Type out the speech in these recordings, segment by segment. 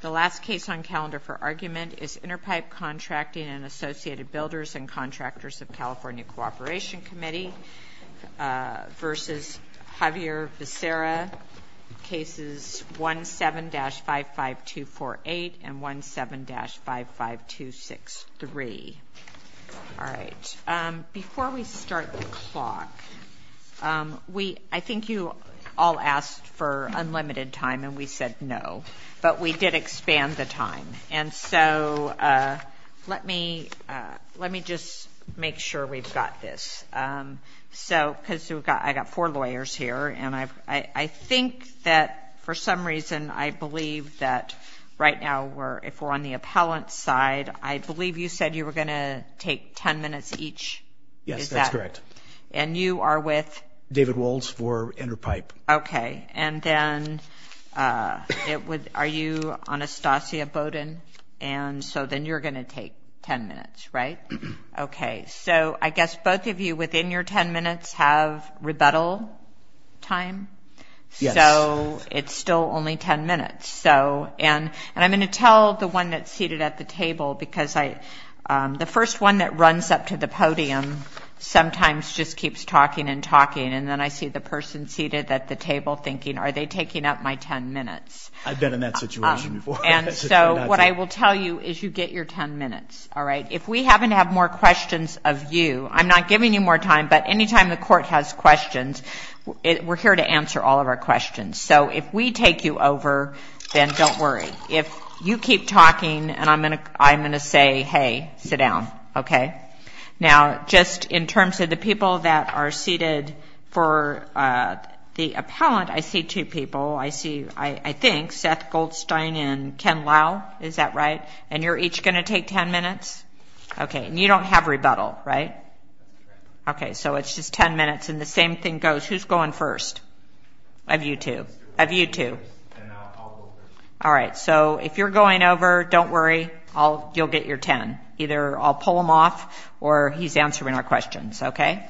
The last case on calendar for argument is Interpipe Contracting and Associated Builders and Contractors of California Cooperation Committee v. Xavier Becerra, Cases 17-55248 and 17-55263. Before we start the clock, I think you all asked for unlimited time and we said no, but we did expand the time and so let me just make sure we've got this because I've got four lawyers here and I think that for some reason I believe that right now if we're on the appellant's side, I believe you said you were going to take ten minutes each? Yes, that's correct. And you are with? David Waltz for Interpipe. Okay, and then are you Anastasia Bowden? And so then you're going to take ten minutes, right? Okay, so I guess both of you within your ten minutes have rebuttal time? Yes. So it's still only ten minutes and I'm going to tell the one that's seated at the table because the first one that runs up to the podium sometimes just keeps talking and talking and then I see the person seated at the table thinking, are they taking up my ten minutes? I've been in that situation before. And so what I will tell you is you get your ten minutes, all right? If we happen to have more questions of you, I'm not giving you more time, but anytime the court has questions, we're here to answer all of our questions. So if we take you over, then don't worry. If you keep talking and I'm going to say, hey, sit down, okay? Now, just in terms of the people that are seated for the appellant, I see two people. I think Seth Goldstein and Ken Lau, is that right? And you're each going to take ten minutes? Okay, and you don't have rebuttal, right? Okay, so it's just ten minutes and the same thing goes. Who's going first? Of you two. Of you two. All right, so if you're going over, don't worry. You'll get your ten. Either I'll pull him off or he's answering our questions, okay?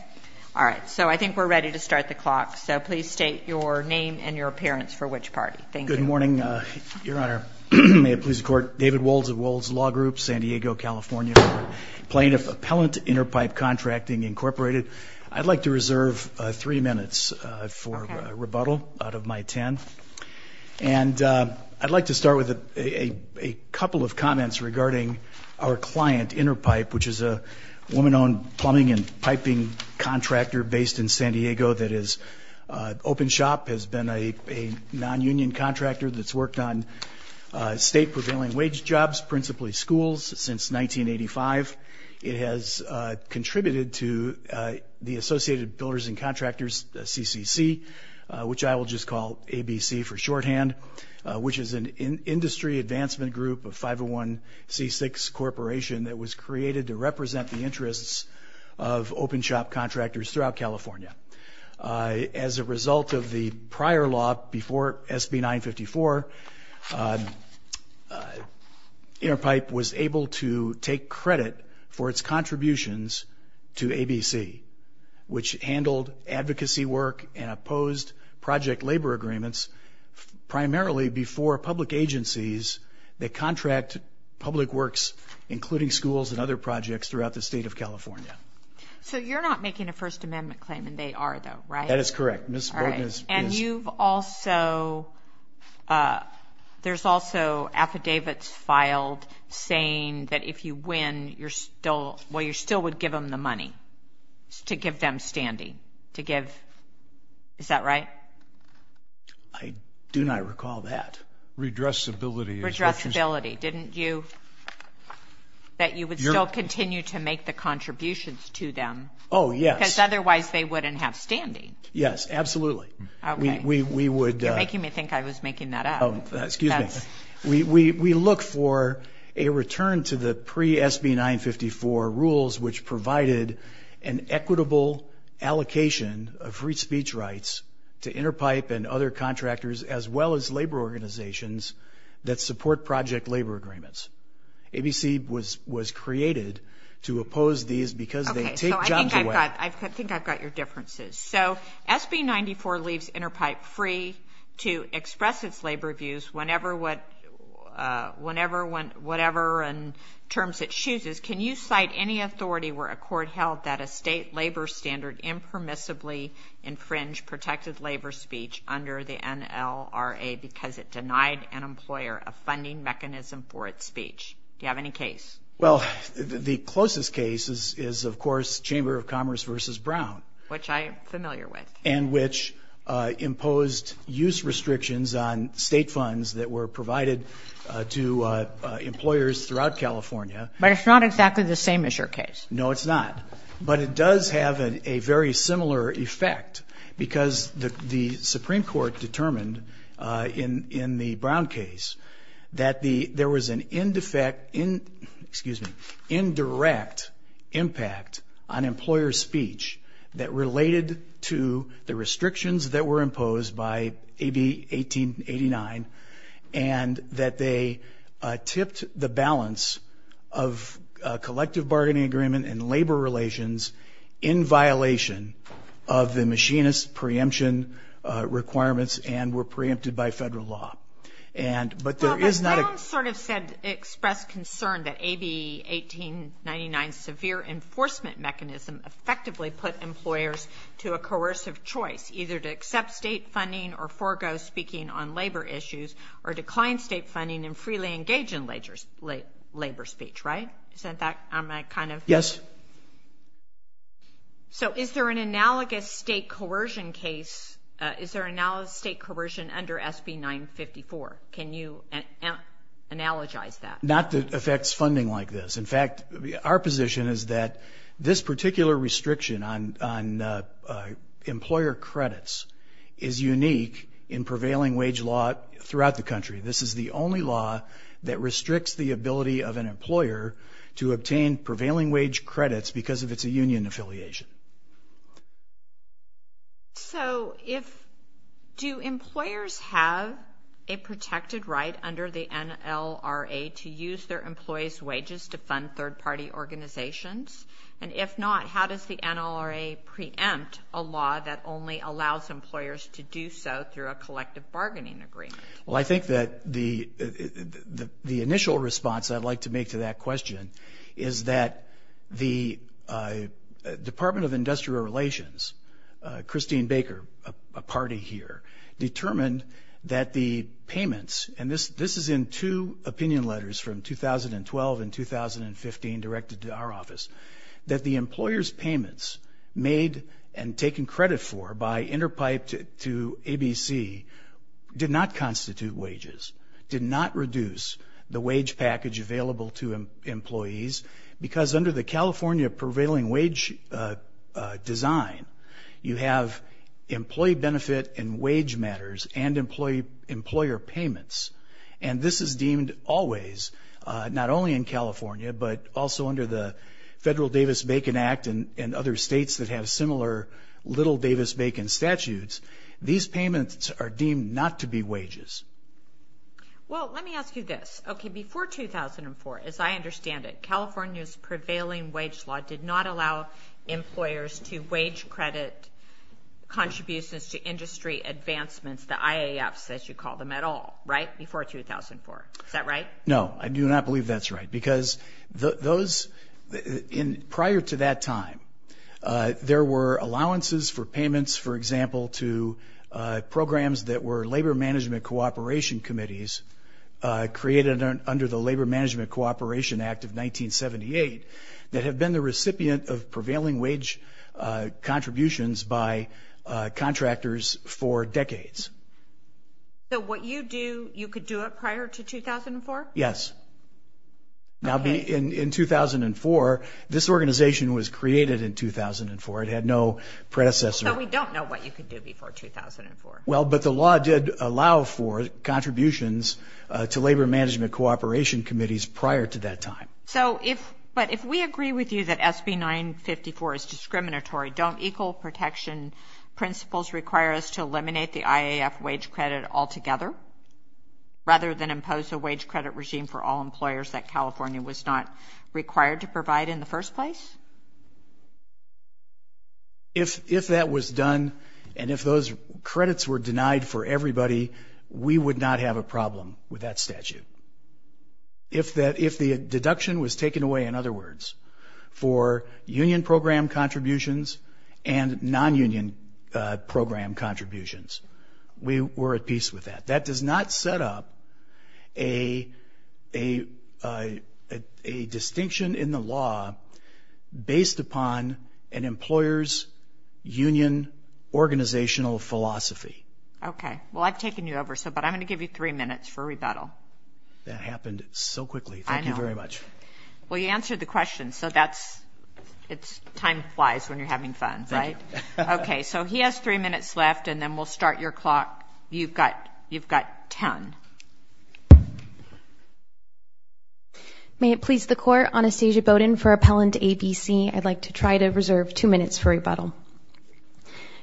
All right, so I think we're ready to start the clock. So please state your name and your appearance for which party. Thank you. Good morning, Your Honor. May it please the Court. David Woldz of Woldz Law Group, San Diego, California. Plaintiff Appellant Interpipe Contracting, Incorporated. I'd like to reserve three minutes for rebuttal out of my ten. And I'd like to start with a couple of comments regarding our client, Interpipe, which is a woman-owned plumbing and piping contractor based in San Diego that is open shop, has been a non-union contractor that's worked on state prevailing wage jobs, principally schools, since 1985. It has contributed to the Associated Builders and Contractors, the CCC, which I will just call ABC for shorthand, which is an industry advancement group of 501C6 Corporation that was created to represent the interests of open shop contractors throughout California. As a result of the prior law before SB 954, Interpipe was able to take credit for its agreements, primarily before public agencies that contract public works, including schools and other projects throughout the state of California. So you're not making a First Amendment claim, and they are, though, right? That is correct. Ms. Bolton is. And you've also, there's also affidavits filed saying that if you win, you're still, well, you still would give them the money to give them standing, to give, is that right? I do not recall that. Redressability. Redressability. Didn't you, that you would still continue to make the contributions to them? Oh, yes. Because otherwise they wouldn't have standing. Yes, absolutely. Okay. We would. You're making me think I was making that up. Excuse me. That's. We look for a return to the pre-SB 954 rules, which provided an equitable allocation of free speech rights to Interpipe and other contractors, as well as labor organizations that support project labor agreements. ABC was created to oppose these because they take jobs away. I think I've got your differences. So SB 94 leaves Interpipe free to express its labor views whenever, whatever terms it chooses. My question is, can you cite any authority where a court held that a state labor standard impermissibly infringed protected labor speech under the NLRA because it denied an employer a funding mechanism for its speech? Do you have any case? Well, the closest case is, of course, Chamber of Commerce v. Brown. Which I am familiar with. And which imposed use restrictions on state funds that were provided to employers throughout California. But it's not exactly the same as your case. No, it's not. But it does have a very similar effect because the Supreme Court determined in the Brown case that there was an indirect impact on employer speech that related to the restrictions that were imposed by AB 1889 and that they tipped the balance of collective bargaining agreement and labor relations in violation of the machinist preemption requirements and were preempted by federal law. But there is not a- Well, the Browns sort of said, expressed concern that AB 1899's severe enforcement mechanism effectively put employers to a coercive choice, either to accept state funding or forego speaking on labor issues or decline state funding and freely engage in labor speech, right? Yes. So, is there an analogous state coercion case, is there an analogous state coercion under SB 954? Can you analogize that? Not that it affects funding like this. In fact, our position is that this particular restriction on employer credits is unique in prevailing wage law throughout the country. This is the only law that restricts the ability of an employer to obtain prevailing wage credits because of its union affiliation. So, if- do employers have a protected right under the NLRA to use their employees' wages to fund third-party organizations? And if not, how does the NLRA preempt a law that only allows employers to do so through a collective bargaining agreement? Well, I think that the initial response I'd like to make to that question is that the Department of Industrial Relations, Christine Baker, a party here, determined that the payments- directed to our office- that the employers' payments made and taken credit for by Interpipe to ABC did not constitute wages, did not reduce the wage package available to employees because under the California prevailing wage design, you have employee benefit and wage matters and employer payments. And this is deemed always, not only in California, but also under the Federal Davis-Bacon Act and other states that have similar little Davis-Bacon statutes, these payments are deemed not to be wages. Well, let me ask you this. Okay, before 2004, as I understand it, California's prevailing wage law did not allow employers to wage credit contributions to industry advancements, the IAFs as you call them at all, right? Before 2004. Is that right? No. I do not believe that's right. Because those- prior to that time, there were allowances for payments, for example, to programs that were labor management cooperation committees created under the Labor Management Cooperation Act of 1978 that have been the recipient of prevailing wage contributions by contractors for decades. So what you do, you could do it prior to 2004? Yes. Okay. Now, in 2004, this organization was created in 2004. It had no predecessor. So we don't know what you could do before 2004. Well, but the law did allow for contributions to labor management cooperation committees prior to that time. So if- but if we agree with you that SB 954 is discriminatory, don't equal protection principles require us to eliminate the IAF wage credit altogether rather than impose a wage credit regime for all employers that California was not required to provide in the first place? If that was done and if those credits were denied for everybody, we would not have a problem with that statute. If that- if the deduction was taken away, in other words, for union program contributions and non-union program contributions, we were at peace with that. That does not set up a distinction in the law based upon an employer's union organizational philosophy. Okay. Well, I've taken you over, so- but I'm going to give you three minutes for rebuttal. That happened so quickly. Thank you very much. I know. You answered the question, so that's- it's- time flies when you're having fun, right? Thank you. Okay. So he has three minutes left, and then we'll start your clock. You've got- you've got ten. May it please the court, Anastasia Bowden for Appellant ABC. I'd like to try to reserve two minutes for rebuttal.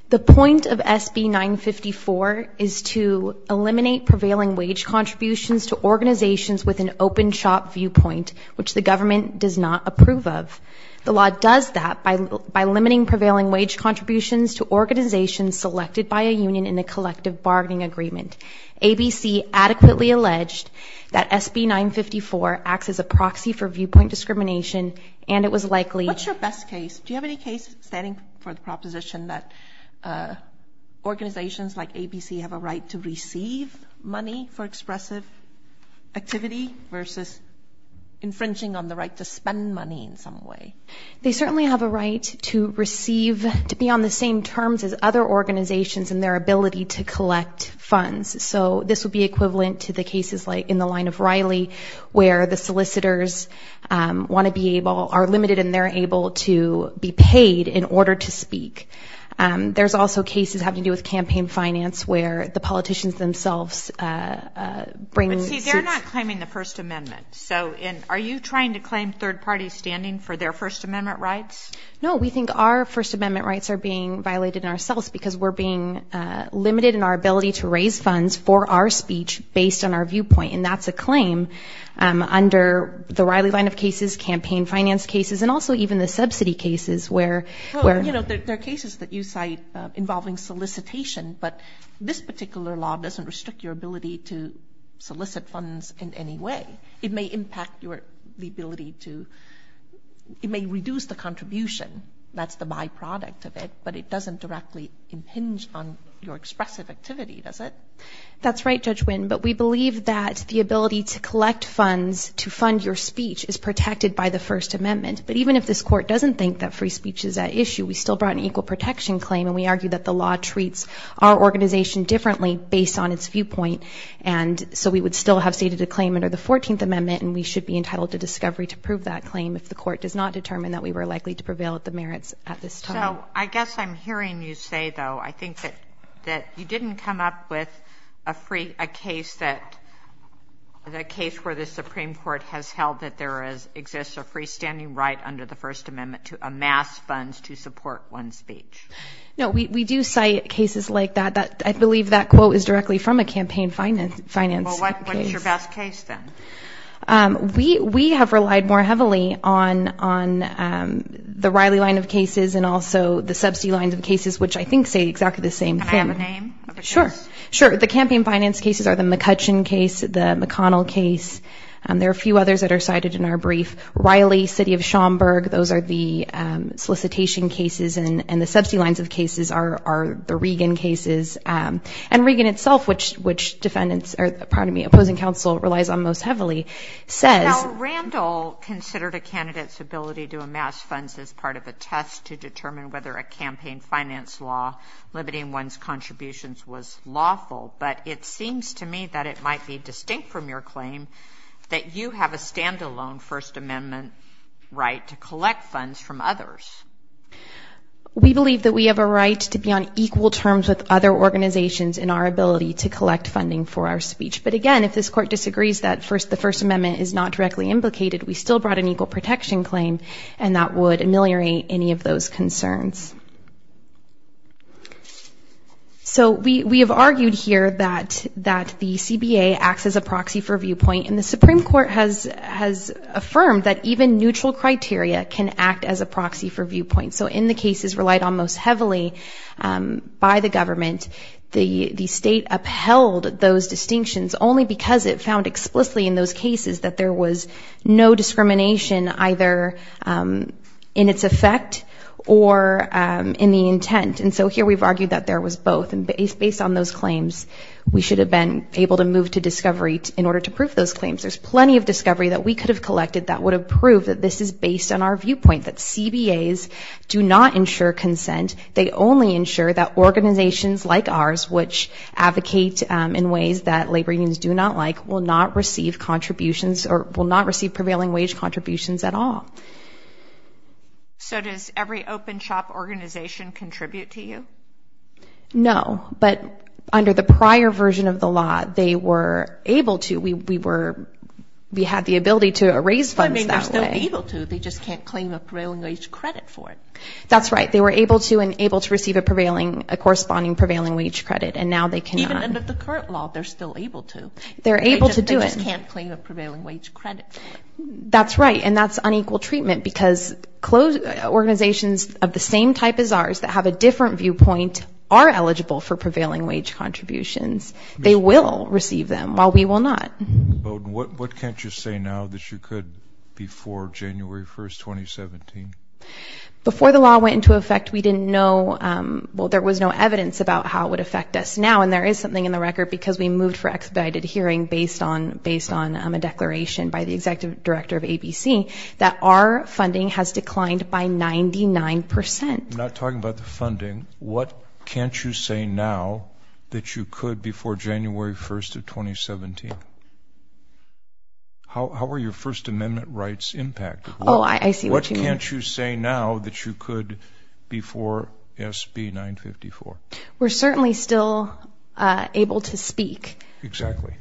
The point of SB 954 is to eliminate prevailing wage contributions to organizations with an open shop viewpoint, which the government does not approve of. The law does that by limiting prevailing wage contributions to organizations selected by a union in a collective bargaining agreement. ABC adequately alleged that SB 954 acts as a proxy for viewpoint discrimination, and it was likely- What's your best case? Do you have any case standing for the proposition that organizations like ABC have a right to infringing on the right to spend money in some way? They certainly have a right to receive- to be on the same terms as other organizations in their ability to collect funds. So this would be equivalent to the cases like in the line of Riley, where the solicitors want to be able- are limited and they're able to be paid in order to speak. There's also cases having to do with campaign finance, where the politicians themselves bring- But see, they're not claiming the First Amendment. So in- are you trying to claim third party standing for their First Amendment rights? No, we think our First Amendment rights are being violated in ourselves because we're being limited in our ability to raise funds for our speech based on our viewpoint, and that's a claim under the Riley line of cases, campaign finance cases, and also even the subsidy cases, where- Well, you know, there are cases that you cite involving solicitation, but this particular law doesn't restrict your ability to solicit funds in any way. It may impact your- the ability to- it may reduce the contribution, that's the byproduct of it, but it doesn't directly impinge on your expressive activity, does it? That's right, Judge Winn, but we believe that the ability to collect funds to fund your speech is protected by the First Amendment, but even if this court doesn't think that free speech is at issue, we still brought an equal protection claim and we argue that the law treats our organization differently based on its viewpoint, and so we would still have stated a claim under the 14th Amendment and we should be entitled to discovery to prove that claim if the court does not determine that we were likely to prevail at the merits at this time. So I guess I'm hearing you say, though, I think that you didn't come up with a free- a case that- the case where the Supreme Court has held that there is- exists a freestanding right under the First Amendment to amass funds to support one's speech. No, we do cite cases like that, that- I believe that quote is directly from a campaign finance case. Well, what's your best case, then? We have relied more heavily on the Riley line of cases and also the subsidy lines of cases, which I think say exactly the same thing. Can I have a name of a case? Sure, sure. The campaign finance cases are the McCutcheon case, the McConnell case, and there are a few others that are cited in our brief. Riley, City of Schaumburg, those are the solicitation cases and the subsidy lines of cases are the Regan cases. And Regan itself, which defendants- or, pardon me, opposing counsel relies on most heavily says- Now, Randall considered a candidate's ability to amass funds as part of a test to determine whether a campaign finance law limiting one's contributions was lawful, but it seems to me that it might be distinct from your claim that you have a standalone First Amendment right to collect funds from others. We believe that we have a right to be on equal terms with other organizations in our ability to collect funding for our speech, but again, if this court disagrees that the First Amendment is not directly implicated, we still brought an equal protection claim and that would ameliorate any of those concerns. So, we have argued here that the CBA acts as a proxy for viewpoint and the Supreme Court has affirmed that even neutral criteria can act as a proxy for viewpoint. So in the cases relied on most heavily by the government, the state upheld those distinctions only because it found explicitly in those cases that there was no discrimination either in its effect or in the intent. And so here we've argued that there was both and based on those claims, we should have been able to move to discovery in order to prove those claims. There's plenty of discovery that we could have collected that would have proved that this is based on our viewpoint, that CBAs do not ensure consent. They only ensure that organizations like ours, which advocate in ways that labor unions do not like, will not receive contributions or will not receive prevailing wage contributions at all. So, does every open shop organization contribute to you? No, but under the prior version of the law, they were able to, we were, we had the ability to raise funds that way. I mean, they're still able to, they just can't claim a prevailing wage credit for it. That's right. They were able to and able to receive a prevailing, a corresponding prevailing wage credit and now they cannot. Even under the current law, they're still able to. They're able to do it. They just can't claim a prevailing wage credit. That's right. And that's unequal treatment because organizations of the same type as ours that have a different viewpoint are eligible for prevailing wage contributions. They will receive them while we will not. What can't you say now that you could before January 1st, 2017? Before the law went into effect, we didn't know, well, there was no evidence about how it would affect us now. And there is something in the record because we moved for expedited hearing based on, based on a declaration by the executive director of ABC that our funding has declined by 99%. Not talking about the funding. What can't you say now that you could before January 1st of 2017? How are your first amendment rights impacted? Oh, I see what you mean. What can't you say now that you could before SB 954? We're certainly still able to speak. Exactly.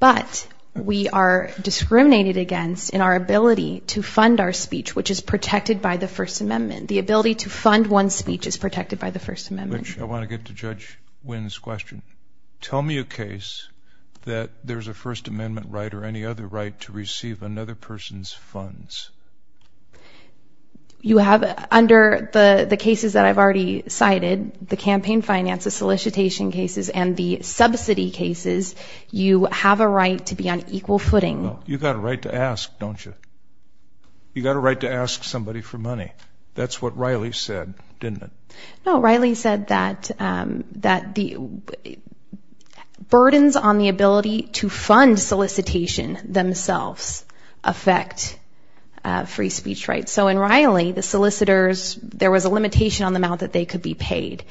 But we are discriminated against in our ability to fund our speech, which is protected by the first amendment. The ability to fund one's speech is protected by the first amendment. Which I want to get to Judge Wynn's question. Tell me a case that there's a first amendment right or any other right to receive another person's funds. You have, under the cases that I've already cited, the campaign finance, the solicitation cases and the subsidy cases, you have a right to be on equal footing. You got a right to ask, don't you? You got a right to ask somebody for money. That's what Riley said, didn't it? No, Riley said that the burdens on the ability to fund solicitation themselves affect free speech rights. So in Riley, the solicitors, there was a limitation on the amount that they could be paid.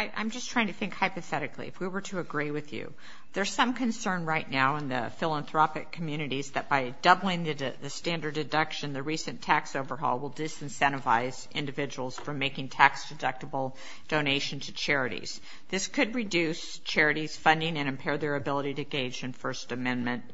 I'm just trying to think hypothetically. If we were to agree with you, there's some concern right now in the philanthropic communities that by doubling the standard deduction, the recent tax overhaul will disincentivize individuals from making tax deductible donations to charities. This could reduce charities' funding and impair their ability to engage in first amendment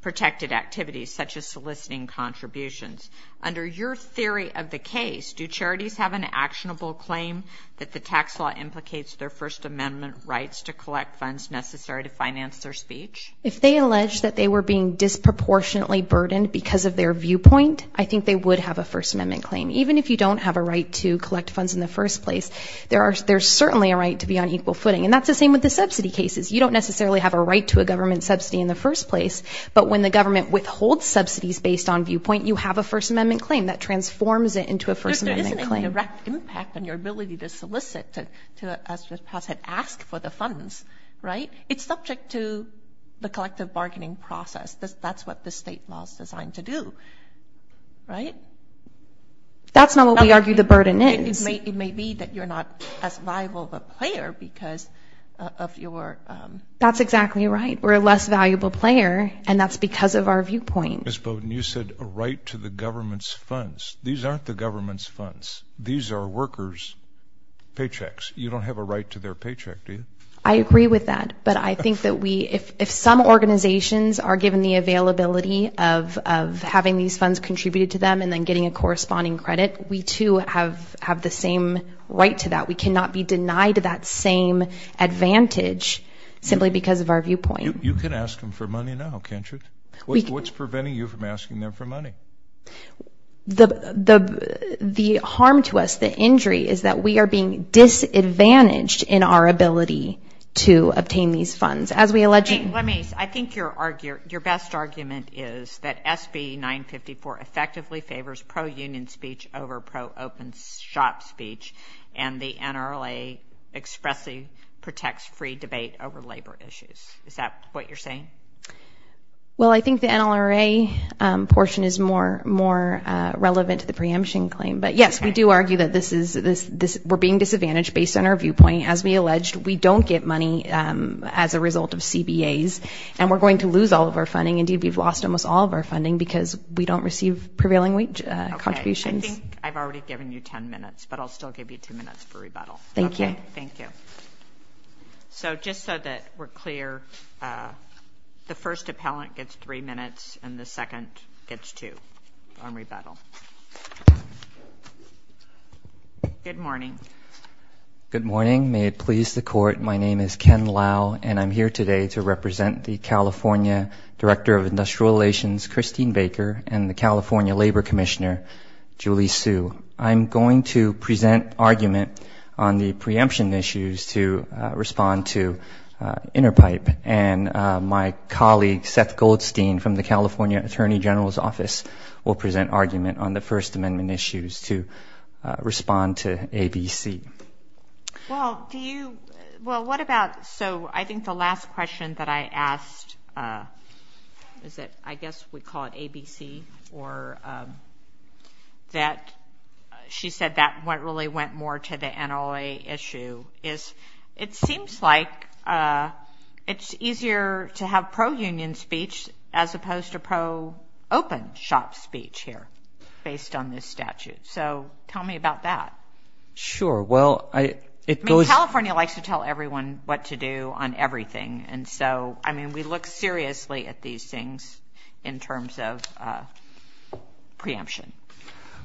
protected activities such as soliciting contributions. Under your theory of the case, do charities have an actionable claim that the tax law implicates their first amendment rights to collect funds necessary to finance their speech? If they allege that they were being disproportionately burdened because of their viewpoint, I think they would have a first amendment claim. Even if you don't have a right to collect funds in the first place, there's certainly a right to be on equal footing. And that's the same with the subsidy cases. You don't necessarily have a right to a government subsidy in the first place, but when the government withholds subsidies based on viewpoint, you have a first amendment claim that transforms it into a first amendment claim. But there isn't a direct impact on your ability to solicit to ask for the funds, right? It's subject to the collective bargaining process. That's what the state law is designed to do, right? That's not what we argue the burden is. It may be that you're not as viable of a player because of your... That's exactly right. We're a less valuable player and that's because of our viewpoint. Ms. Bowden, you said a right to the government's funds. These aren't the government's funds. These are workers' paychecks. You don't have a right to their paycheck, do you? I agree with that. But I think that if some organizations are given the availability of having these funds contributed to them and then getting a corresponding credit, we too have the same right to that. We cannot be denied that same advantage simply because of our viewpoint. You can ask them for money now, can't you? What's preventing you from asking them for money? The harm to us, the injury, is that we are being disadvantaged in our ability to obtain these funds. As we allegedly... Let me... I think your best argument is that SB 954 effectively favors pro-union speech over pro-open shop speech and the NLRA expressly protects free debate over labor issues. Is that what you're saying? Well, I think the NLRA portion is more relevant to the preemption claim. But yes, we do argue that we're being disadvantaged based on our viewpoint. As we alleged, we don't get money as a result of CBAs and we're going to lose all of our funding. Indeed, we've lost almost all of our funding because we don't receive prevailing contributions. Okay. I think I've already given you 10 minutes, but I'll still give you 10 minutes for rebuttal. Thank you. Thank you. Okay. So, just so that we're clear, the first appellant gets three minutes and the second gets two on rebuttal. Good morning. Good morning. May it please the Court. My name is Ken Lau and I'm here today to represent the California Director of Industrial Relations, Christine Baker, and the California Labor Commissioner, Julie Hsu. I'm going to present argument on the preemption issues to respond to Interpipe. And my colleague, Seth Goldstein, from the California Attorney General's Office, will present argument on the First Amendment issues to respond to ABC. Well, do you – well, what about – so I think the last question that I asked is that I guess we call it ABC or that – she said that what really went more to the NOA issue is it seems like it's easier to have pro-union speech as opposed to pro-open shop speech here based on this statute. So tell me about that. Sure. Well, I – it goes – I mean, California likes to tell everyone what to do on everything. And so, I mean, we look seriously at these things in terms of preemption.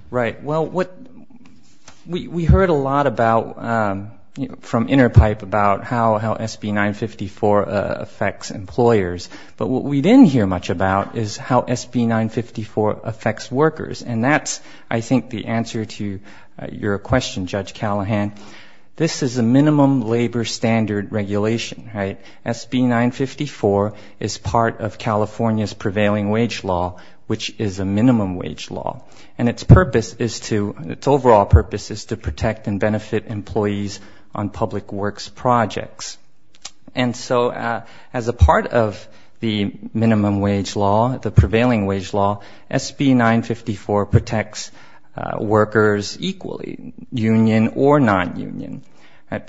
Right. Well, what – we heard a lot about – from Interpipe about how SB 954 affects employers. But what we didn't hear much about is how SB 954 affects workers. And that's, I think, the answer to your question, Judge Callahan. This is a minimum labor standard regulation, right? SB 954 is part of California's prevailing wage law, which is a minimum wage law. And its purpose is to – its overall purpose is to protect and benefit employees on public works projects. And so, as a part of the minimum wage law, the prevailing wage law, SB 954 protects workers equally, union or non-union,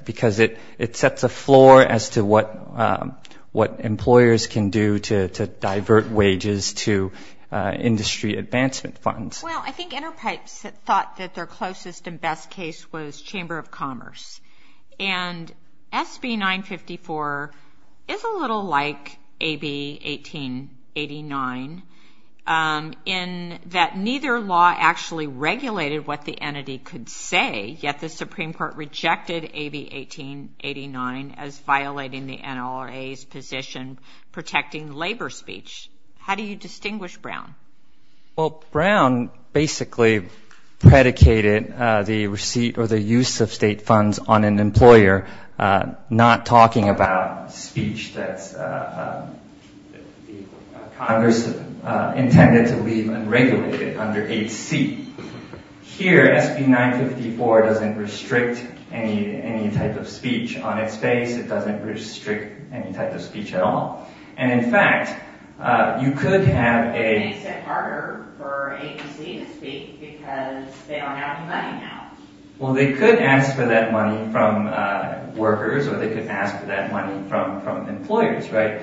because it sets a floor as to what employers can do to divert wages to industry advancement funds. Well, I think Interpipes thought that their closest and best case was Chamber of Commerce. And SB 954 is a little like AB 1889 in that neither law actually regulated what the entity could say, yet the Supreme Court rejected AB 1889 as violating the NLRA's position protecting labor speech. How do you distinguish Brown? Well, Brown basically predicated the receipt or the use of state funds on an employer, not talking about speech that Congress intended to leave unregulated under 8C. Here, SB 954 doesn't restrict any type of speech on its face. It doesn't restrict any type of speech at all. And in fact, you could have a – It makes it harder for 8C to speak because they don't have any money now. Well, they could ask for that money from workers, or they could ask for that money from employers, right?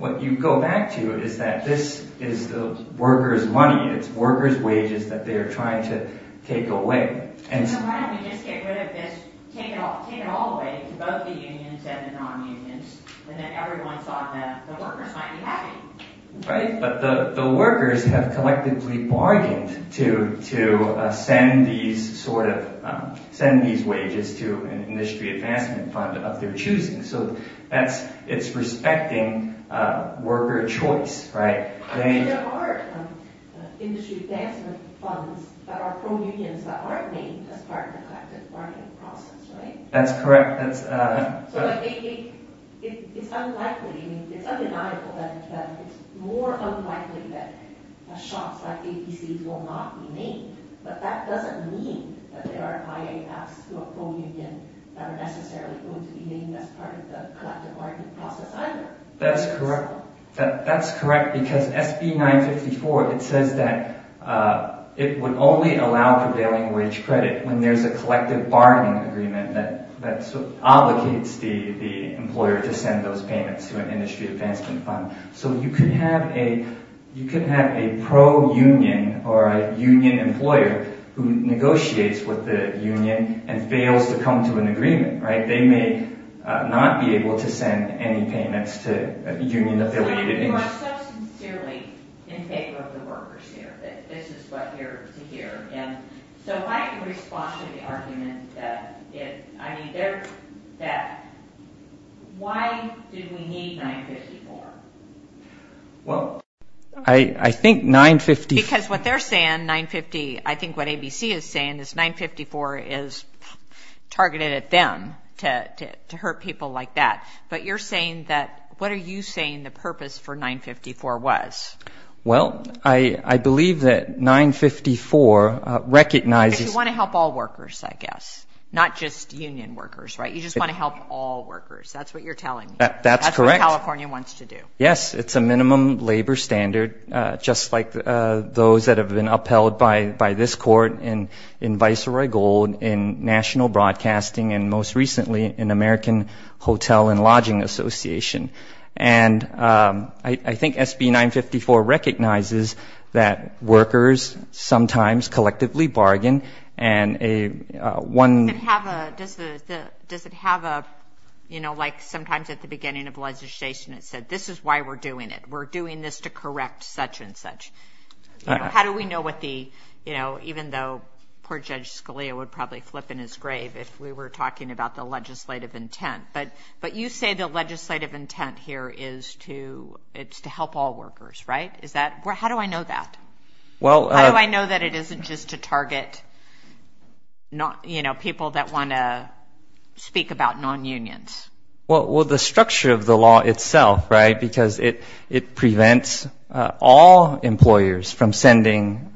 What you go back to is that this is the workers' money, it's workers' wages that they are trying to take away. So why don't we just get rid of this, take it all away to both the unions and the non-unions, and then everyone thought that the workers might be happy? Right, but the workers have collectively bargained to send these wages to an industry advancement fund of their choosing, so it's respecting worker choice, right? But there are industry advancement funds that are from unions that aren't made as part of the collective bargaining process, right? That's correct. So it's unlikely, it's undeniable that it's more unlikely that shops like 8C's will not be named, but that doesn't mean that there are IAFs who are pro-union that are necessarily going to be named as part of the collective bargaining process either. That's correct. That's correct because SB 954, it says that it would only allow prevailing wage credit when there's a collective bargaining agreement that obligates the employer to send those payments to an industry advancement fund. So you could have a pro-union or a union employer who negotiates with the union and fails to come to an agreement, right? They may not be able to send any payments to union-affiliated... You are so sincerely in favor of the workers here that this is what you're to hear. So if I can respond to the argument that why do we need 954? Well, I think 954... Because what they're saying, 950, I think what ABC is saying is 954 is targeted at them to hurt people like that. But you're saying that, what are you saying the purpose for 954 was? Well, I believe that 954 recognizes... Because you want to help all workers, I guess, not just union workers, right? You just want to help all workers. That's what you're telling me. That's correct. That's what California wants to do. Yes, it's a minimum labor standard, just like those that have been upheld by this court in Viceroy Gold, in National Broadcasting, and most recently in American Hotel and Lodging Association. And I think SB 954 recognizes that workers sometimes collectively bargain, and a one... Does it have a... You know, like sometimes at the beginning of legislation it said, this is why we're doing it. We're doing this to correct such and such. How do we know what the... You know, even though poor Judge Scalia would probably flip in his grave if we were talking about the legislative intent. But you say the legislative intent here is to help all workers, right? Is that... How do I know that? Well... How do I know that it isn't just to target, you know, people that want to speak about non-unions? Well, the structure of the law itself, right? Because it prevents all employers from sending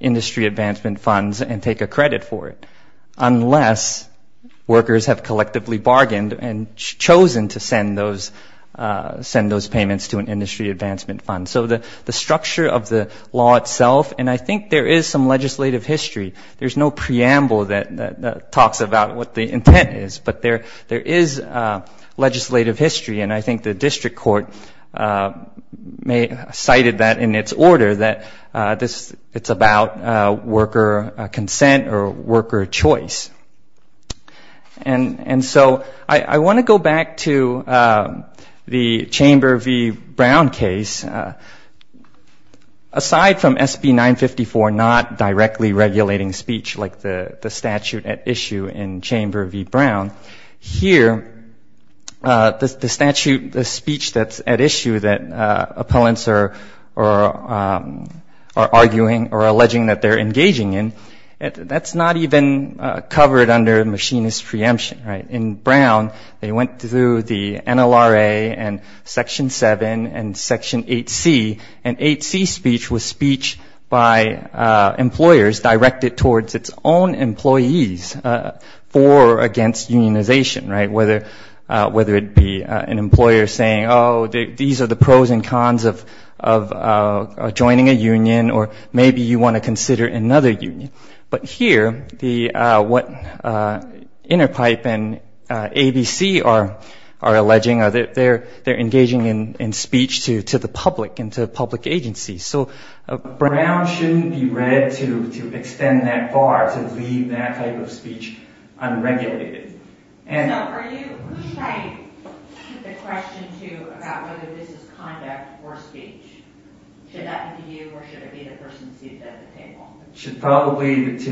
industry advancement funds and take a credit for it, workers have collectively bargained and chosen to send those payments to an industry advancement fund. So the structure of the law itself, and I think there is some legislative history. There's no preamble that talks about what the intent is. But there is legislative history, and I think the district court cited that in its order, that it's about worker consent or worker choice. And so I want to go back to the Chamber v. Brown case. Aside from SB 954 not directly regulating speech like the statute at issue in Chamber v. Brown, here the statute, the speech that's at issue that appellants are arguing or alleging that they're engaging in, that's not even covered under machinist preemption, right? In Brown, they went through the NLRA and Section 7 and Section 8C, and 8C speech was speech by employers directed towards its own employees for or against unionization, right? Whether it be an employer saying, oh, these are the pros and cons of joining a union, or maybe you want to consider another union. But here, what Interpipe and ABC are alleging, they're engaging in speech to the public and to public agencies. So Brown shouldn't be read to extend that far to leave that type of speech unregulated. So who should I put the question to about whether this is conduct or speech? Should that be you or should it be the person seated at the table? It should probably be to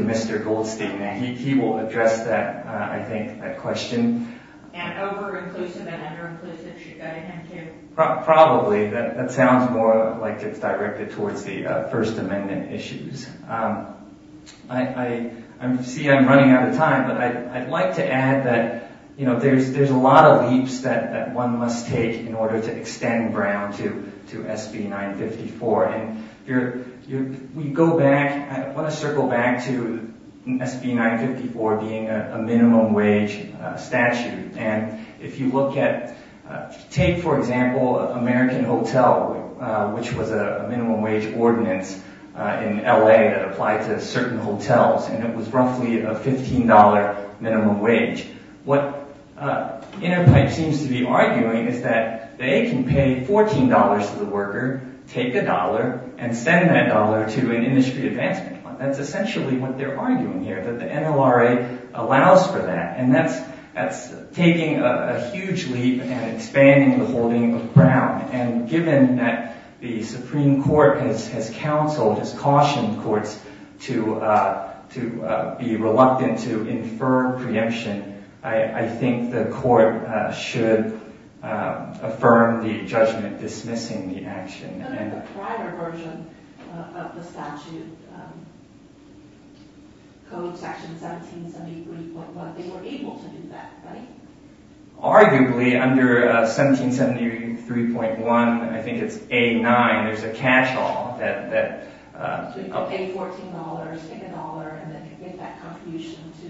Mr. Goldstein. He will address that, I think, that question. And over-inclusive and under-inclusive should go to him, too? Probably. That sounds more like it's directed towards the First Amendment issues. See, I'm running out of time, but I'd like to add that there's a lot of leaps that one must take in order to extend Brown to SB 954. We go back—I want to circle back to SB 954 being a minimum wage statute. And if you look at—take, for example, American Hotel, which was a minimum wage ordinance in L.A. that applied to certain hotels, and it was roughly a $15 minimum wage. What Interpipe seems to be arguing is that they can pay $14 to the worker, take a dollar, and send that dollar to an industry advancement fund. That's essentially what they're arguing here, that the NLRA allows for that. And that's taking a huge leap and expanding the holding of Brown. And given that the Supreme Court has counseled, has cautioned courts to be reluctant to infer preemption, I think the court should affirm the judgment dismissing the action. But in the prior version of the statute, Code Section 1773.1, they were able to do that, right? Arguably, under 1773.1, I think it's A-9, there's a catch-all that— So you could pay $14, take a dollar, and then get that contribution to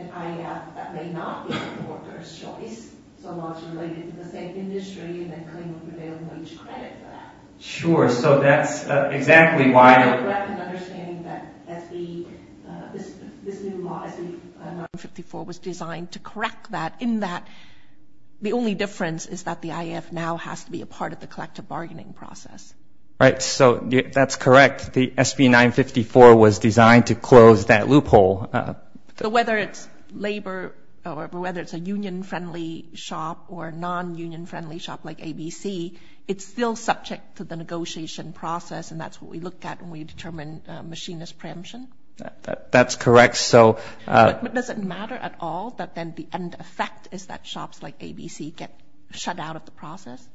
an IAF that may not be the worker's choice, so not related to the same industry, and then claim a prevailing wage credit for that. Sure, so that's exactly why— I'm correct in understanding that this new law, SB 954, was designed to correct that, in that the only difference is that the IAF now has to be a part of the collective bargaining process. Right, so that's correct. The SB 954 was designed to close that loophole. So whether it's labor or whether it's a union-friendly shop or a non-union-friendly shop like ABC, it's still subject to the negotiation process, and that's what we look at when we determine machinist preemption? That's correct, so— But does it matter at all that then the end effect is that shops like ABC get shut out of the process?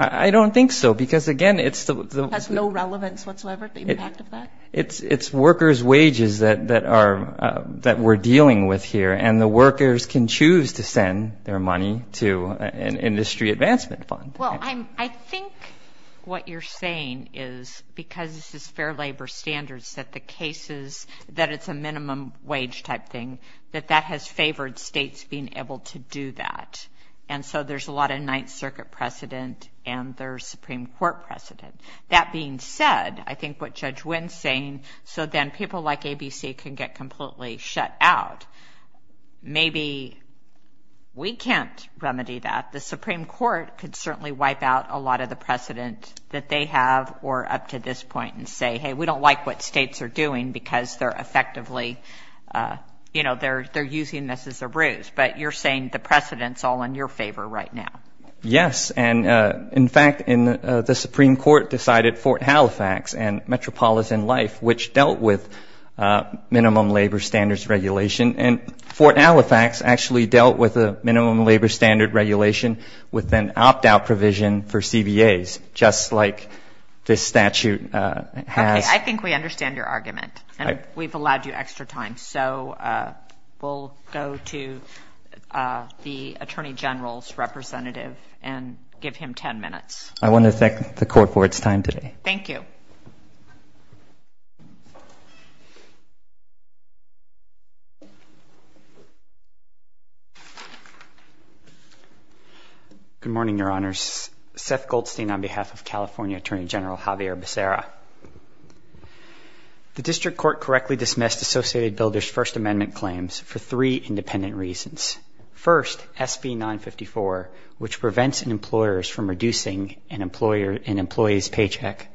I don't think so, because, again, it's the— Has no relevance whatsoever, the impact of that? It's worker's wages that we're dealing with here, and the workers can choose to send their money to an industry advancement fund. Well, I think what you're saying is, because this is fair labor standards, that the cases— that it's a minimum wage type thing, that that has favored states being able to do that, and so there's a lot of Ninth Circuit precedent and there's Supreme Court precedent. That being said, I think what Judge Wynn's saying, so then people like ABC can get completely shut out, maybe we can't remedy that. The Supreme Court could certainly wipe out a lot of the precedent that they have or up to this point and say, hey, we don't like what states are doing because they're effectively, you know, they're using this as a ruse. But you're saying the precedent's all in your favor right now. Yes, and, in fact, the Supreme Court decided Fort Halifax and Metropolitan Life, which dealt with minimum labor standards regulation, and Fort Halifax actually dealt with the minimum labor standard regulation with an opt-out provision for CBAs, just like this statute has. Okay, I think we understand your argument, and we've allowed you extra time, so we'll go to the Attorney General's representative and give him ten minutes. I want to thank the Court for its time today. Thank you. Good morning, Your Honors. Seth Goldstein on behalf of California Attorney General Javier Becerra. The district court correctly dismissed Associated Builders' First Amendment claims for three independent reasons. First, SB 954, which prevents employers from reducing an employee's paycheck,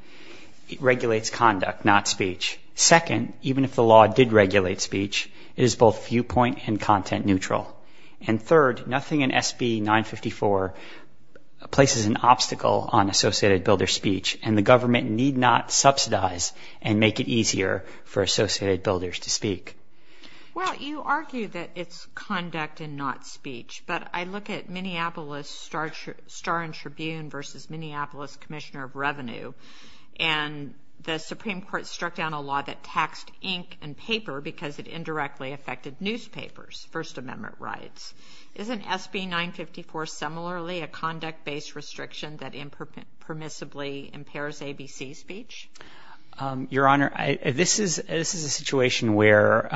regulates conduct, not speech. Second, even if the law did regulate speech, it is both viewpoint and content neutral. And third, nothing in SB 954 places an obstacle on Associated Builders' speech, and the government need not subsidize and make it easier for Associated Builders to speak. Well, you argue that it's conduct and not speech, but I look at Minneapolis Star and Tribune versus Minneapolis Commissioner of Revenue, and the Supreme Court struck down a law that taxed ink and paper because it indirectly affected newspapers, First Amendment rights. Isn't SB 954 similarly a conduct-based restriction that impermissibly impairs ABC speech? Your Honor, this is a situation where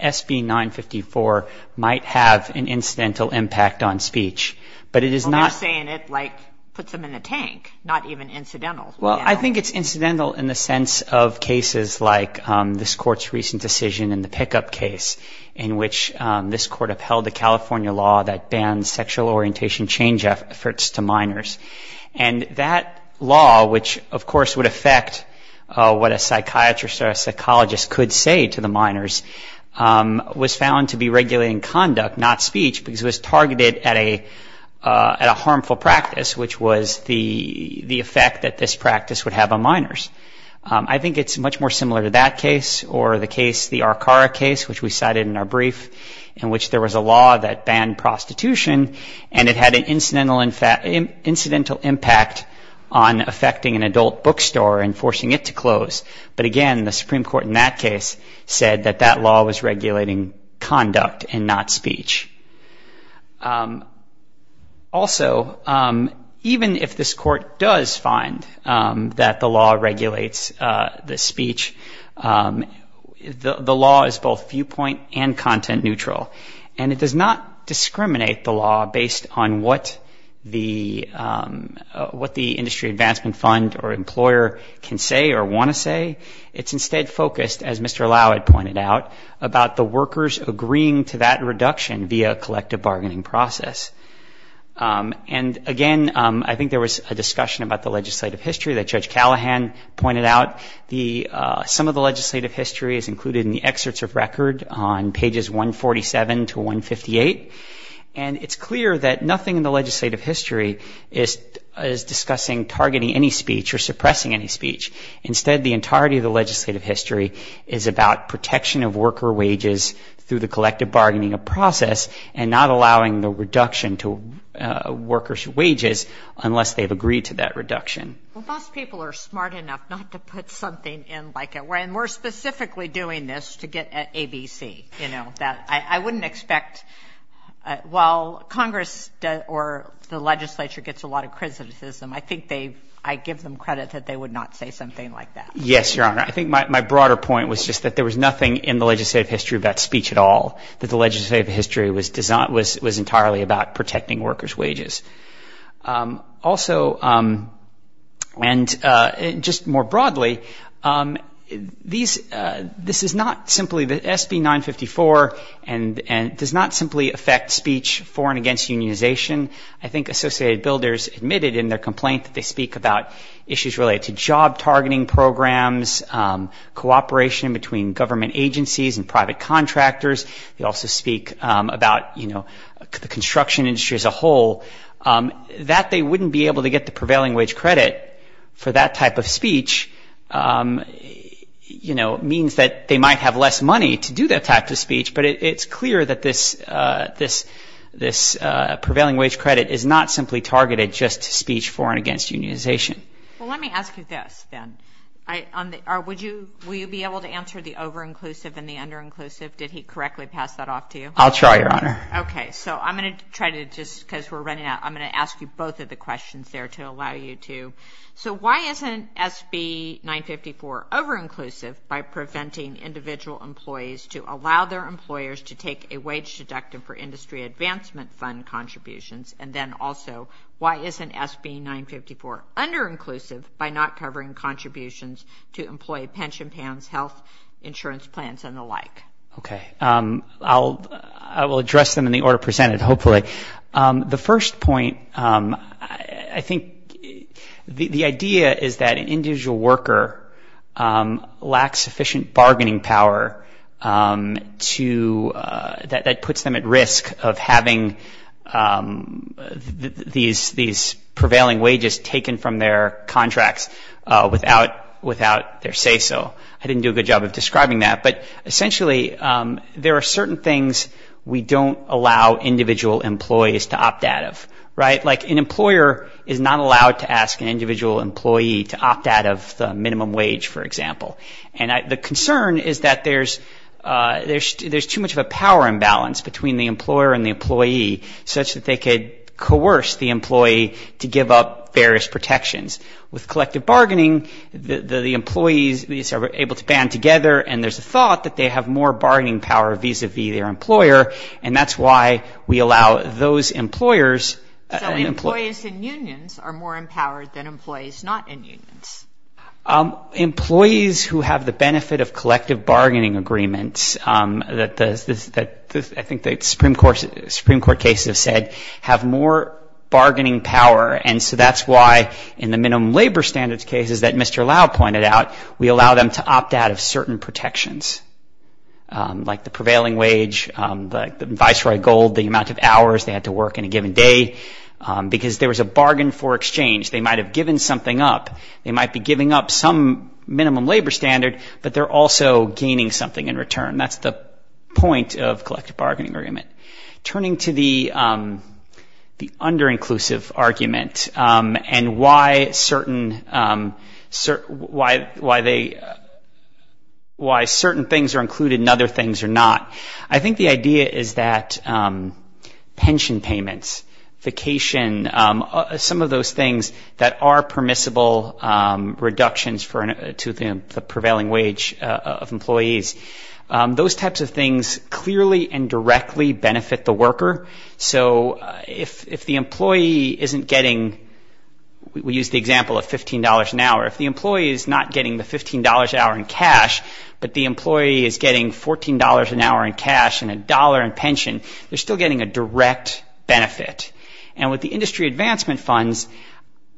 SB 954 might have an incidental impact on speech, but it is not. Well, you're saying it, like, puts them in a tank, not even incidental. Well, I think it's incidental in the sense of cases like this Court's recent decision in the pickup case in which this Court upheld the California law that bans sexual orientation change efforts to minors. And that law, which of course would affect what a psychiatrist or a psychologist could say to the minors, was found to be regulating conduct, not speech, because it was targeted at a harmful practice, which was the effect that this practice would have on minors. I think it's much more similar to that case or the case, the Arcara case, which we cited in our brief, in which there was a law that banned prostitution, and it had an incidental impact on affecting an adult bookstore and forcing it to close. But again, the Supreme Court in that case said that that law was regulating conduct and not speech. Also, even if this Court does find that the law regulates the speech, the law is both viewpoint and content neutral, and it does not discriminate the law based on what the industry advancement fund or employer can say or want to say. It's instead focused, as Mr. Allowed pointed out, about the workers agreeing to that reduction via a collective bargaining process. And again, I think there was a discussion about the legislative history that Judge Callahan pointed out. Some of the legislative history is included in the excerpts of record on pages 147 to 158, and it's clear that nothing in the legislative history is discussing targeting any speech or suppressing any speech. Instead, the entirety of the legislative history is about protection of worker wages through the collective bargaining process and not allowing the reduction to workers' wages unless they've agreed to that reduction. Well, most people are smart enough not to put something in like a way, and we're specifically doing this to get ABC, you know, that I wouldn't expect. While Congress or the legislature gets a lot of criticism, I think I give them credit that they would not say something like that. Yes, Your Honor. I think my broader point was just that there was nothing in the legislative history about speech at all, that the legislative history was entirely about protecting workers' wages. Also, and just more broadly, this is not simply the SB 954, and it does not simply affect speech for and against unionization. I think Associated Builders admitted in their complaint that they speak about issues related to job targeting programs, cooperation between government agencies and private contractors. They also speak about, you know, the construction industry as a whole. That they wouldn't be able to get the prevailing wage credit for that type of speech, you know, means that they might have less money to do that type of speech, but it's clear that this prevailing wage credit is not simply targeted just to speech for and against unionization. Well, let me ask you this then. Will you be able to answer the over-inclusive and the under-inclusive? Did he correctly pass that off to you? I'll try, Your Honor. Okay. So I'm going to try to just, because we're running out, I'm going to ask you both of the questions there to allow you to. So why isn't SB 954 over-inclusive by preventing individual employees to allow their employers to take a wage deductive for industry advancement fund contributions? And then also, why isn't SB 954 under-inclusive by not covering contributions to employee pension plans, health insurance plans, and the like? Okay. I will address them in the order presented, hopefully. The first point, I think the idea is that an individual worker lacks sufficient bargaining power to, that puts them at risk of having these prevailing wages taken from their contracts without their say-so. I didn't do a good job of describing that. But essentially, there are certain things we don't allow individual employees to opt out of, right? Like an employer is not allowed to ask an individual employee to opt out of the minimum wage, for example. And the concern is that there's too much of a power imbalance between the employer and the employee, such that they could coerce the employee to give up various protections. With collective bargaining, the employees are able to band together, and there's a thought that they have more bargaining power vis-à-vis their employer, and that's why we allow those employers. So employees in unions are more empowered than employees not in unions. Employees who have the benefit of collective bargaining agreements, that I think the Supreme Court cases have said, have more bargaining power. And so that's why in the minimum labor standards cases that Mr. Lau pointed out, we allow them to opt out of certain protections, like the prevailing wage, the advisory gold, the amount of hours they had to work in a given day, because there was a bargain for exchange. They might have given something up. They might be giving up some minimum labor standard, but they're also gaining something in return. That's the point of collective bargaining agreement. Turning to the under-inclusive argument and why certain things are included and other things are not, I think the idea is that pension payments, vacation, some of those things that are permissible reductions to the prevailing wage of employees, those types of things clearly and directly benefit the worker. So if the employee isn't getting, we use the example of $15 an hour. If the employee is not getting the $15 an hour in cash, but the employee is getting $14 an hour in cash and a dollar in pension, they're still getting a direct benefit. And with the industry advancement funds,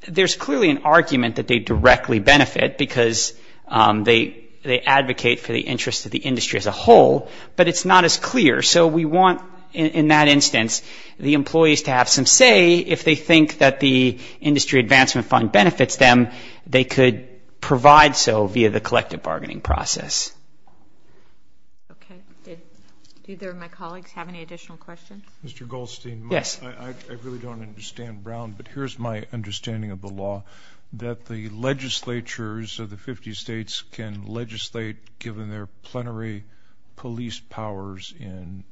there's clearly an argument that they directly benefit because they advocate for the interest of the industry as a whole, but it's not as clear. So we want, in that instance, the employees to have some say. If they think that the industry advancement fund benefits them, they could provide so via the collective bargaining process. Okay. Do either of my colleagues have any additional questions? Mr. Goldstein. Yes. I really don't understand Brown, but here's my understanding of the law that the legislatures of the 50 states can legislate, given their plenary police powers in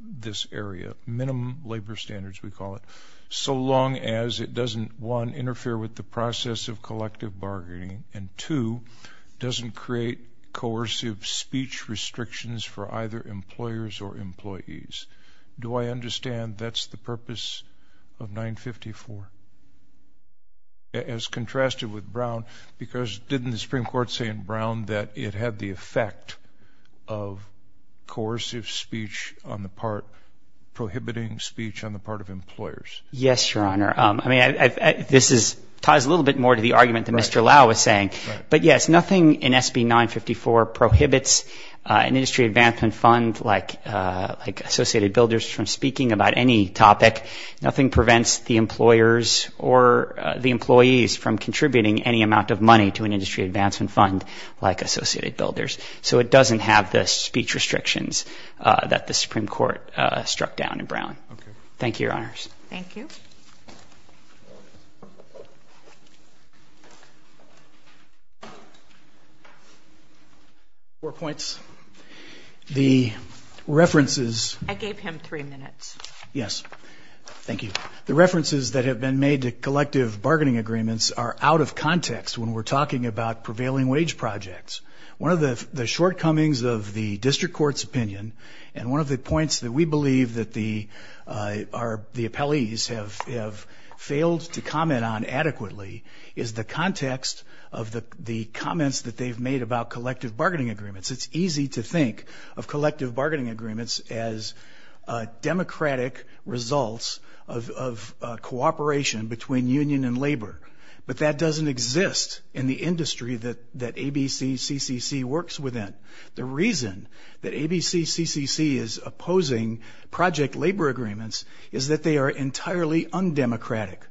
this area, minimum labor standards we call it, so long as it doesn't, one, interfere with the process of collective bargaining and, two, doesn't create coercive speech restrictions for either employers or employees. Do I understand that's the purpose of 954 as contrasted with Brown? Because didn't the Supreme Court say in Brown that it had the effect of coercive speech on the part, prohibiting speech on the part of employers? Yes, Your Honor. I mean, this ties a little bit more to the argument that Mr. Lau was saying. But, yes, nothing in SB 954 prohibits an industry advancement fund like Associated Builders from speaking about any topic. Nothing prevents the employers or the employees from contributing any amount of money to an industry advancement fund like Associated Builders. So it doesn't have the speech restrictions that the Supreme Court struck down in Brown. Thank you, Your Honors. Thank you. Four points. The references. I gave him three minutes. Yes. Thank you. The references that have been made to collective bargaining agreements are out of context when we're talking about prevailing wage projects. One of the shortcomings of the district court's opinion, and one of the points that we believe that the appellees have failed to comment on adequately, is the context of the comments that they've made about collective bargaining agreements. It's easy to think of collective bargaining agreements as democratic results of cooperation between union and labor. But that doesn't exist in the industry that ABCCCC works within. The reason that ABCCCC is opposing project labor agreements is that they are entirely undemocratic.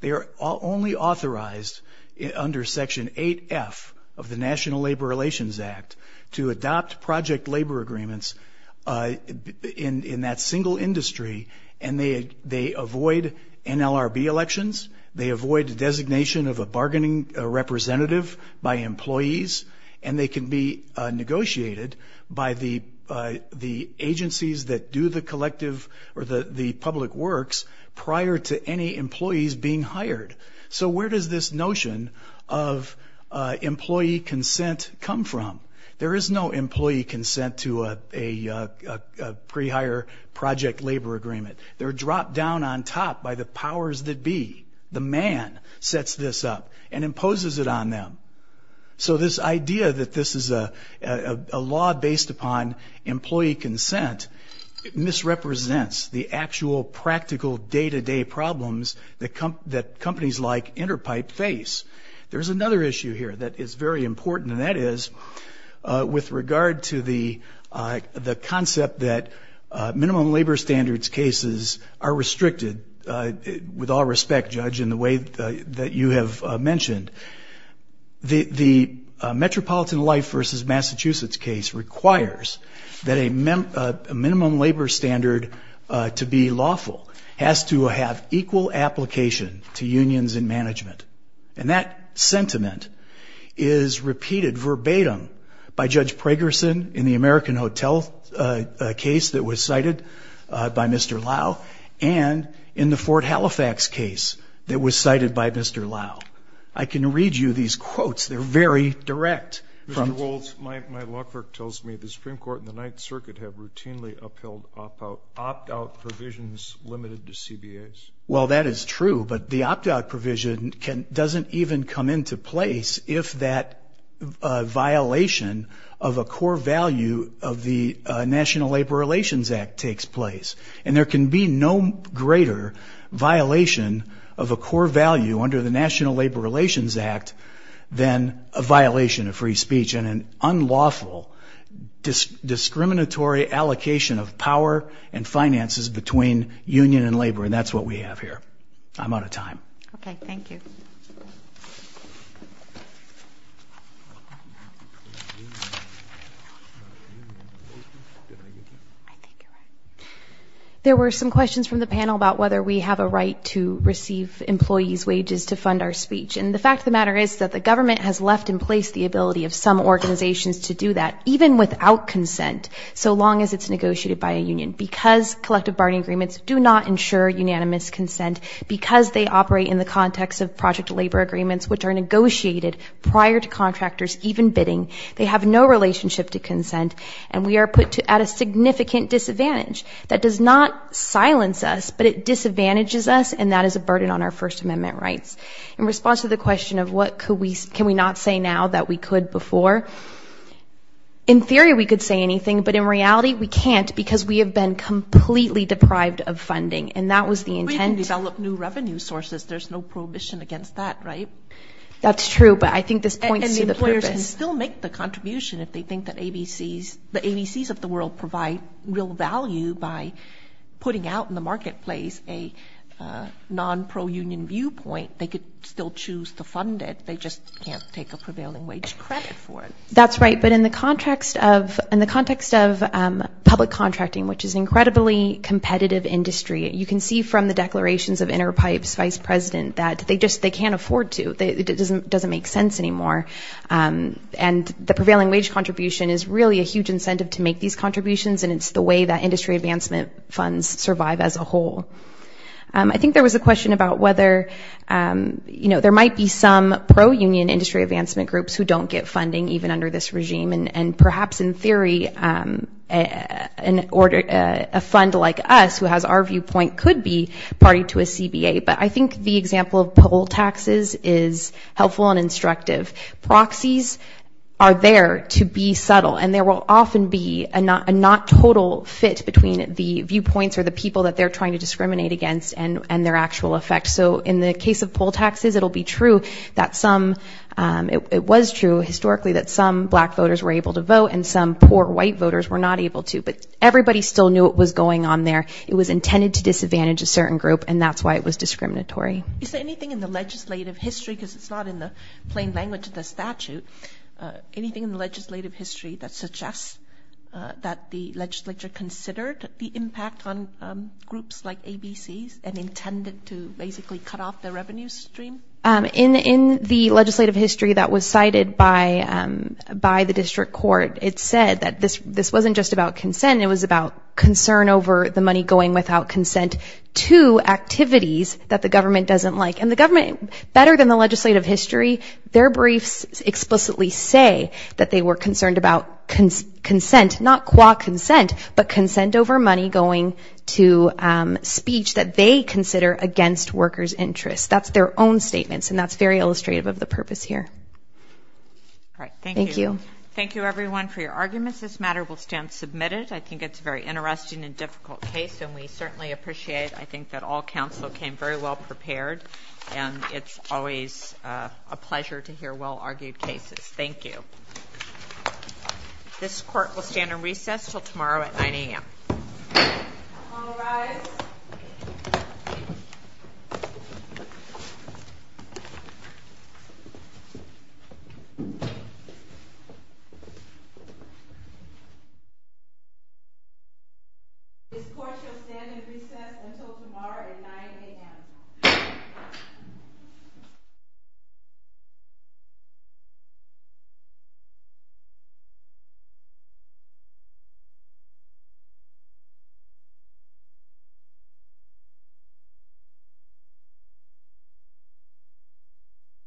They are only authorized under Section 8F of the National Labor Relations Act to adopt project labor agreements in that single industry, and they avoid NLRB elections, they avoid the designation of a bargaining representative by employees, and they can be negotiated by the agencies that do the collective or the public works prior to any employees being hired. So where does this notion of employee consent come from? There is no employee consent to a pre-hire project labor agreement. They're dropped down on top by the powers that be. The man sets this up and imposes it on them. So this idea that this is a law based upon employee consent misrepresents the actual practical day-to-day problems that companies like Interpipe face. There's another issue here that is very important, and that is with regard to the concept that minimum labor standards cases are restricted, with all respect, Judge, in the way that you have mentioned, the Metropolitan Life v. Massachusetts case requires that a minimum labor standard to be lawful has to have equal application to unions and management. And that sentiment is repeated verbatim by Judge Pragerson in the American Hotel case that was cited by Mr. Lau and in the Fort Halifax case that was cited by Mr. Lau. I can read you these quotes. They're very direct. Mr. Wolds, my law clerk tells me the Supreme Court and the Ninth Circuit have routinely upheld opt-out provisions limited to CBAs. Well, that is true, but the opt-out provision doesn't even come into place if that violation of a core value of the National Labor Relations Act takes place. And there can be no greater violation of a core value under the National Labor Relations Act than a violation of free speech and an unlawful discriminatory allocation of power and finances between union and labor, and that's what we have here. I'm out of time. Okay, thank you. There were some questions from the panel about whether we have a right to receive employees' wages to fund our speech. And the fact of the matter is that the government has left in place the ability of some organizations to do that, even without consent, so long as it's negotiated by a union, because collective bargaining agreements do not ensure unanimous consent because they operate in the context of project labor agreements, which are negotiated prior to contractors even bidding. They have no relationship to consent, and we are put at a significant disadvantage. That does not silence us, but it disadvantages us, and that is a burden on our First Amendment rights. In response to the question of what can we not say now that we could before, in theory we could say anything, but in reality we can't because we have been completely deprived of funding, and that was the intent. We can develop new revenue sources. There's no prohibition against that, right? That's true, but I think this points to the purpose. And employers can still make the contribution if they think that ABCs, the ABCs of the world provide real value by putting out in the marketplace a non-pro-union viewpoint. They could still choose to fund it. They just can't take a prevailing wage credit for it. That's right, but in the context of public contracting, which is an incredibly competitive industry, you can see from the declarations of Interpipe's vice president that they just can't afford to. It doesn't make sense anymore. And the prevailing wage contribution is really a huge incentive to make these contributions, and it's the way that industry advancement funds survive as a whole. I think there was a question about whether, you know, there might be some pro-union industry advancement groups who don't get funding even under this regime, and perhaps in theory a fund like us who has our viewpoint could be party to a CBA. But I think the example of poll taxes is helpful and instructive. Proxies are there to be subtle, and there will often be a not total fit between the viewpoints or the people that they're trying to discriminate against and their actual effect. So in the case of poll taxes, it'll be true that some, it was true historically that some black voters were able to vote and some poor white voters were not able to, but everybody still knew what was going on there. It was intended to disadvantage a certain group, and that's why it was discriminatory. Is there anything in the legislative history, because it's not in the plain language of the statute, anything in the legislative history that suggests that the legislature considered the impact on groups like ABCs and intended to basically cut off their revenue stream? In the legislative history that was cited by the district court, it said that this wasn't just about consent, it was about concern over the money going without consent to activities that the government doesn't like. And the government, better than the legislative history, their briefs explicitly say that they were concerned about consent, not qua consent, but consent over money going to speech that they consider against workers' interests. That's their own statements, and that's very illustrative of the purpose here. Thank you. Thank you, everyone, for your arguments. This matter will stand submitted. I think it's a very interesting and difficult case, and we certainly appreciate, I think, that all counsel came very well prepared, and it's always a pleasure to hear well-argued cases. Thank you. This court will stand on recess until tomorrow at 9 a.m. All rise. This court shall stand on recess until tomorrow at 9 a.m. This court shall stand on recess until tomorrow at 9 a.m.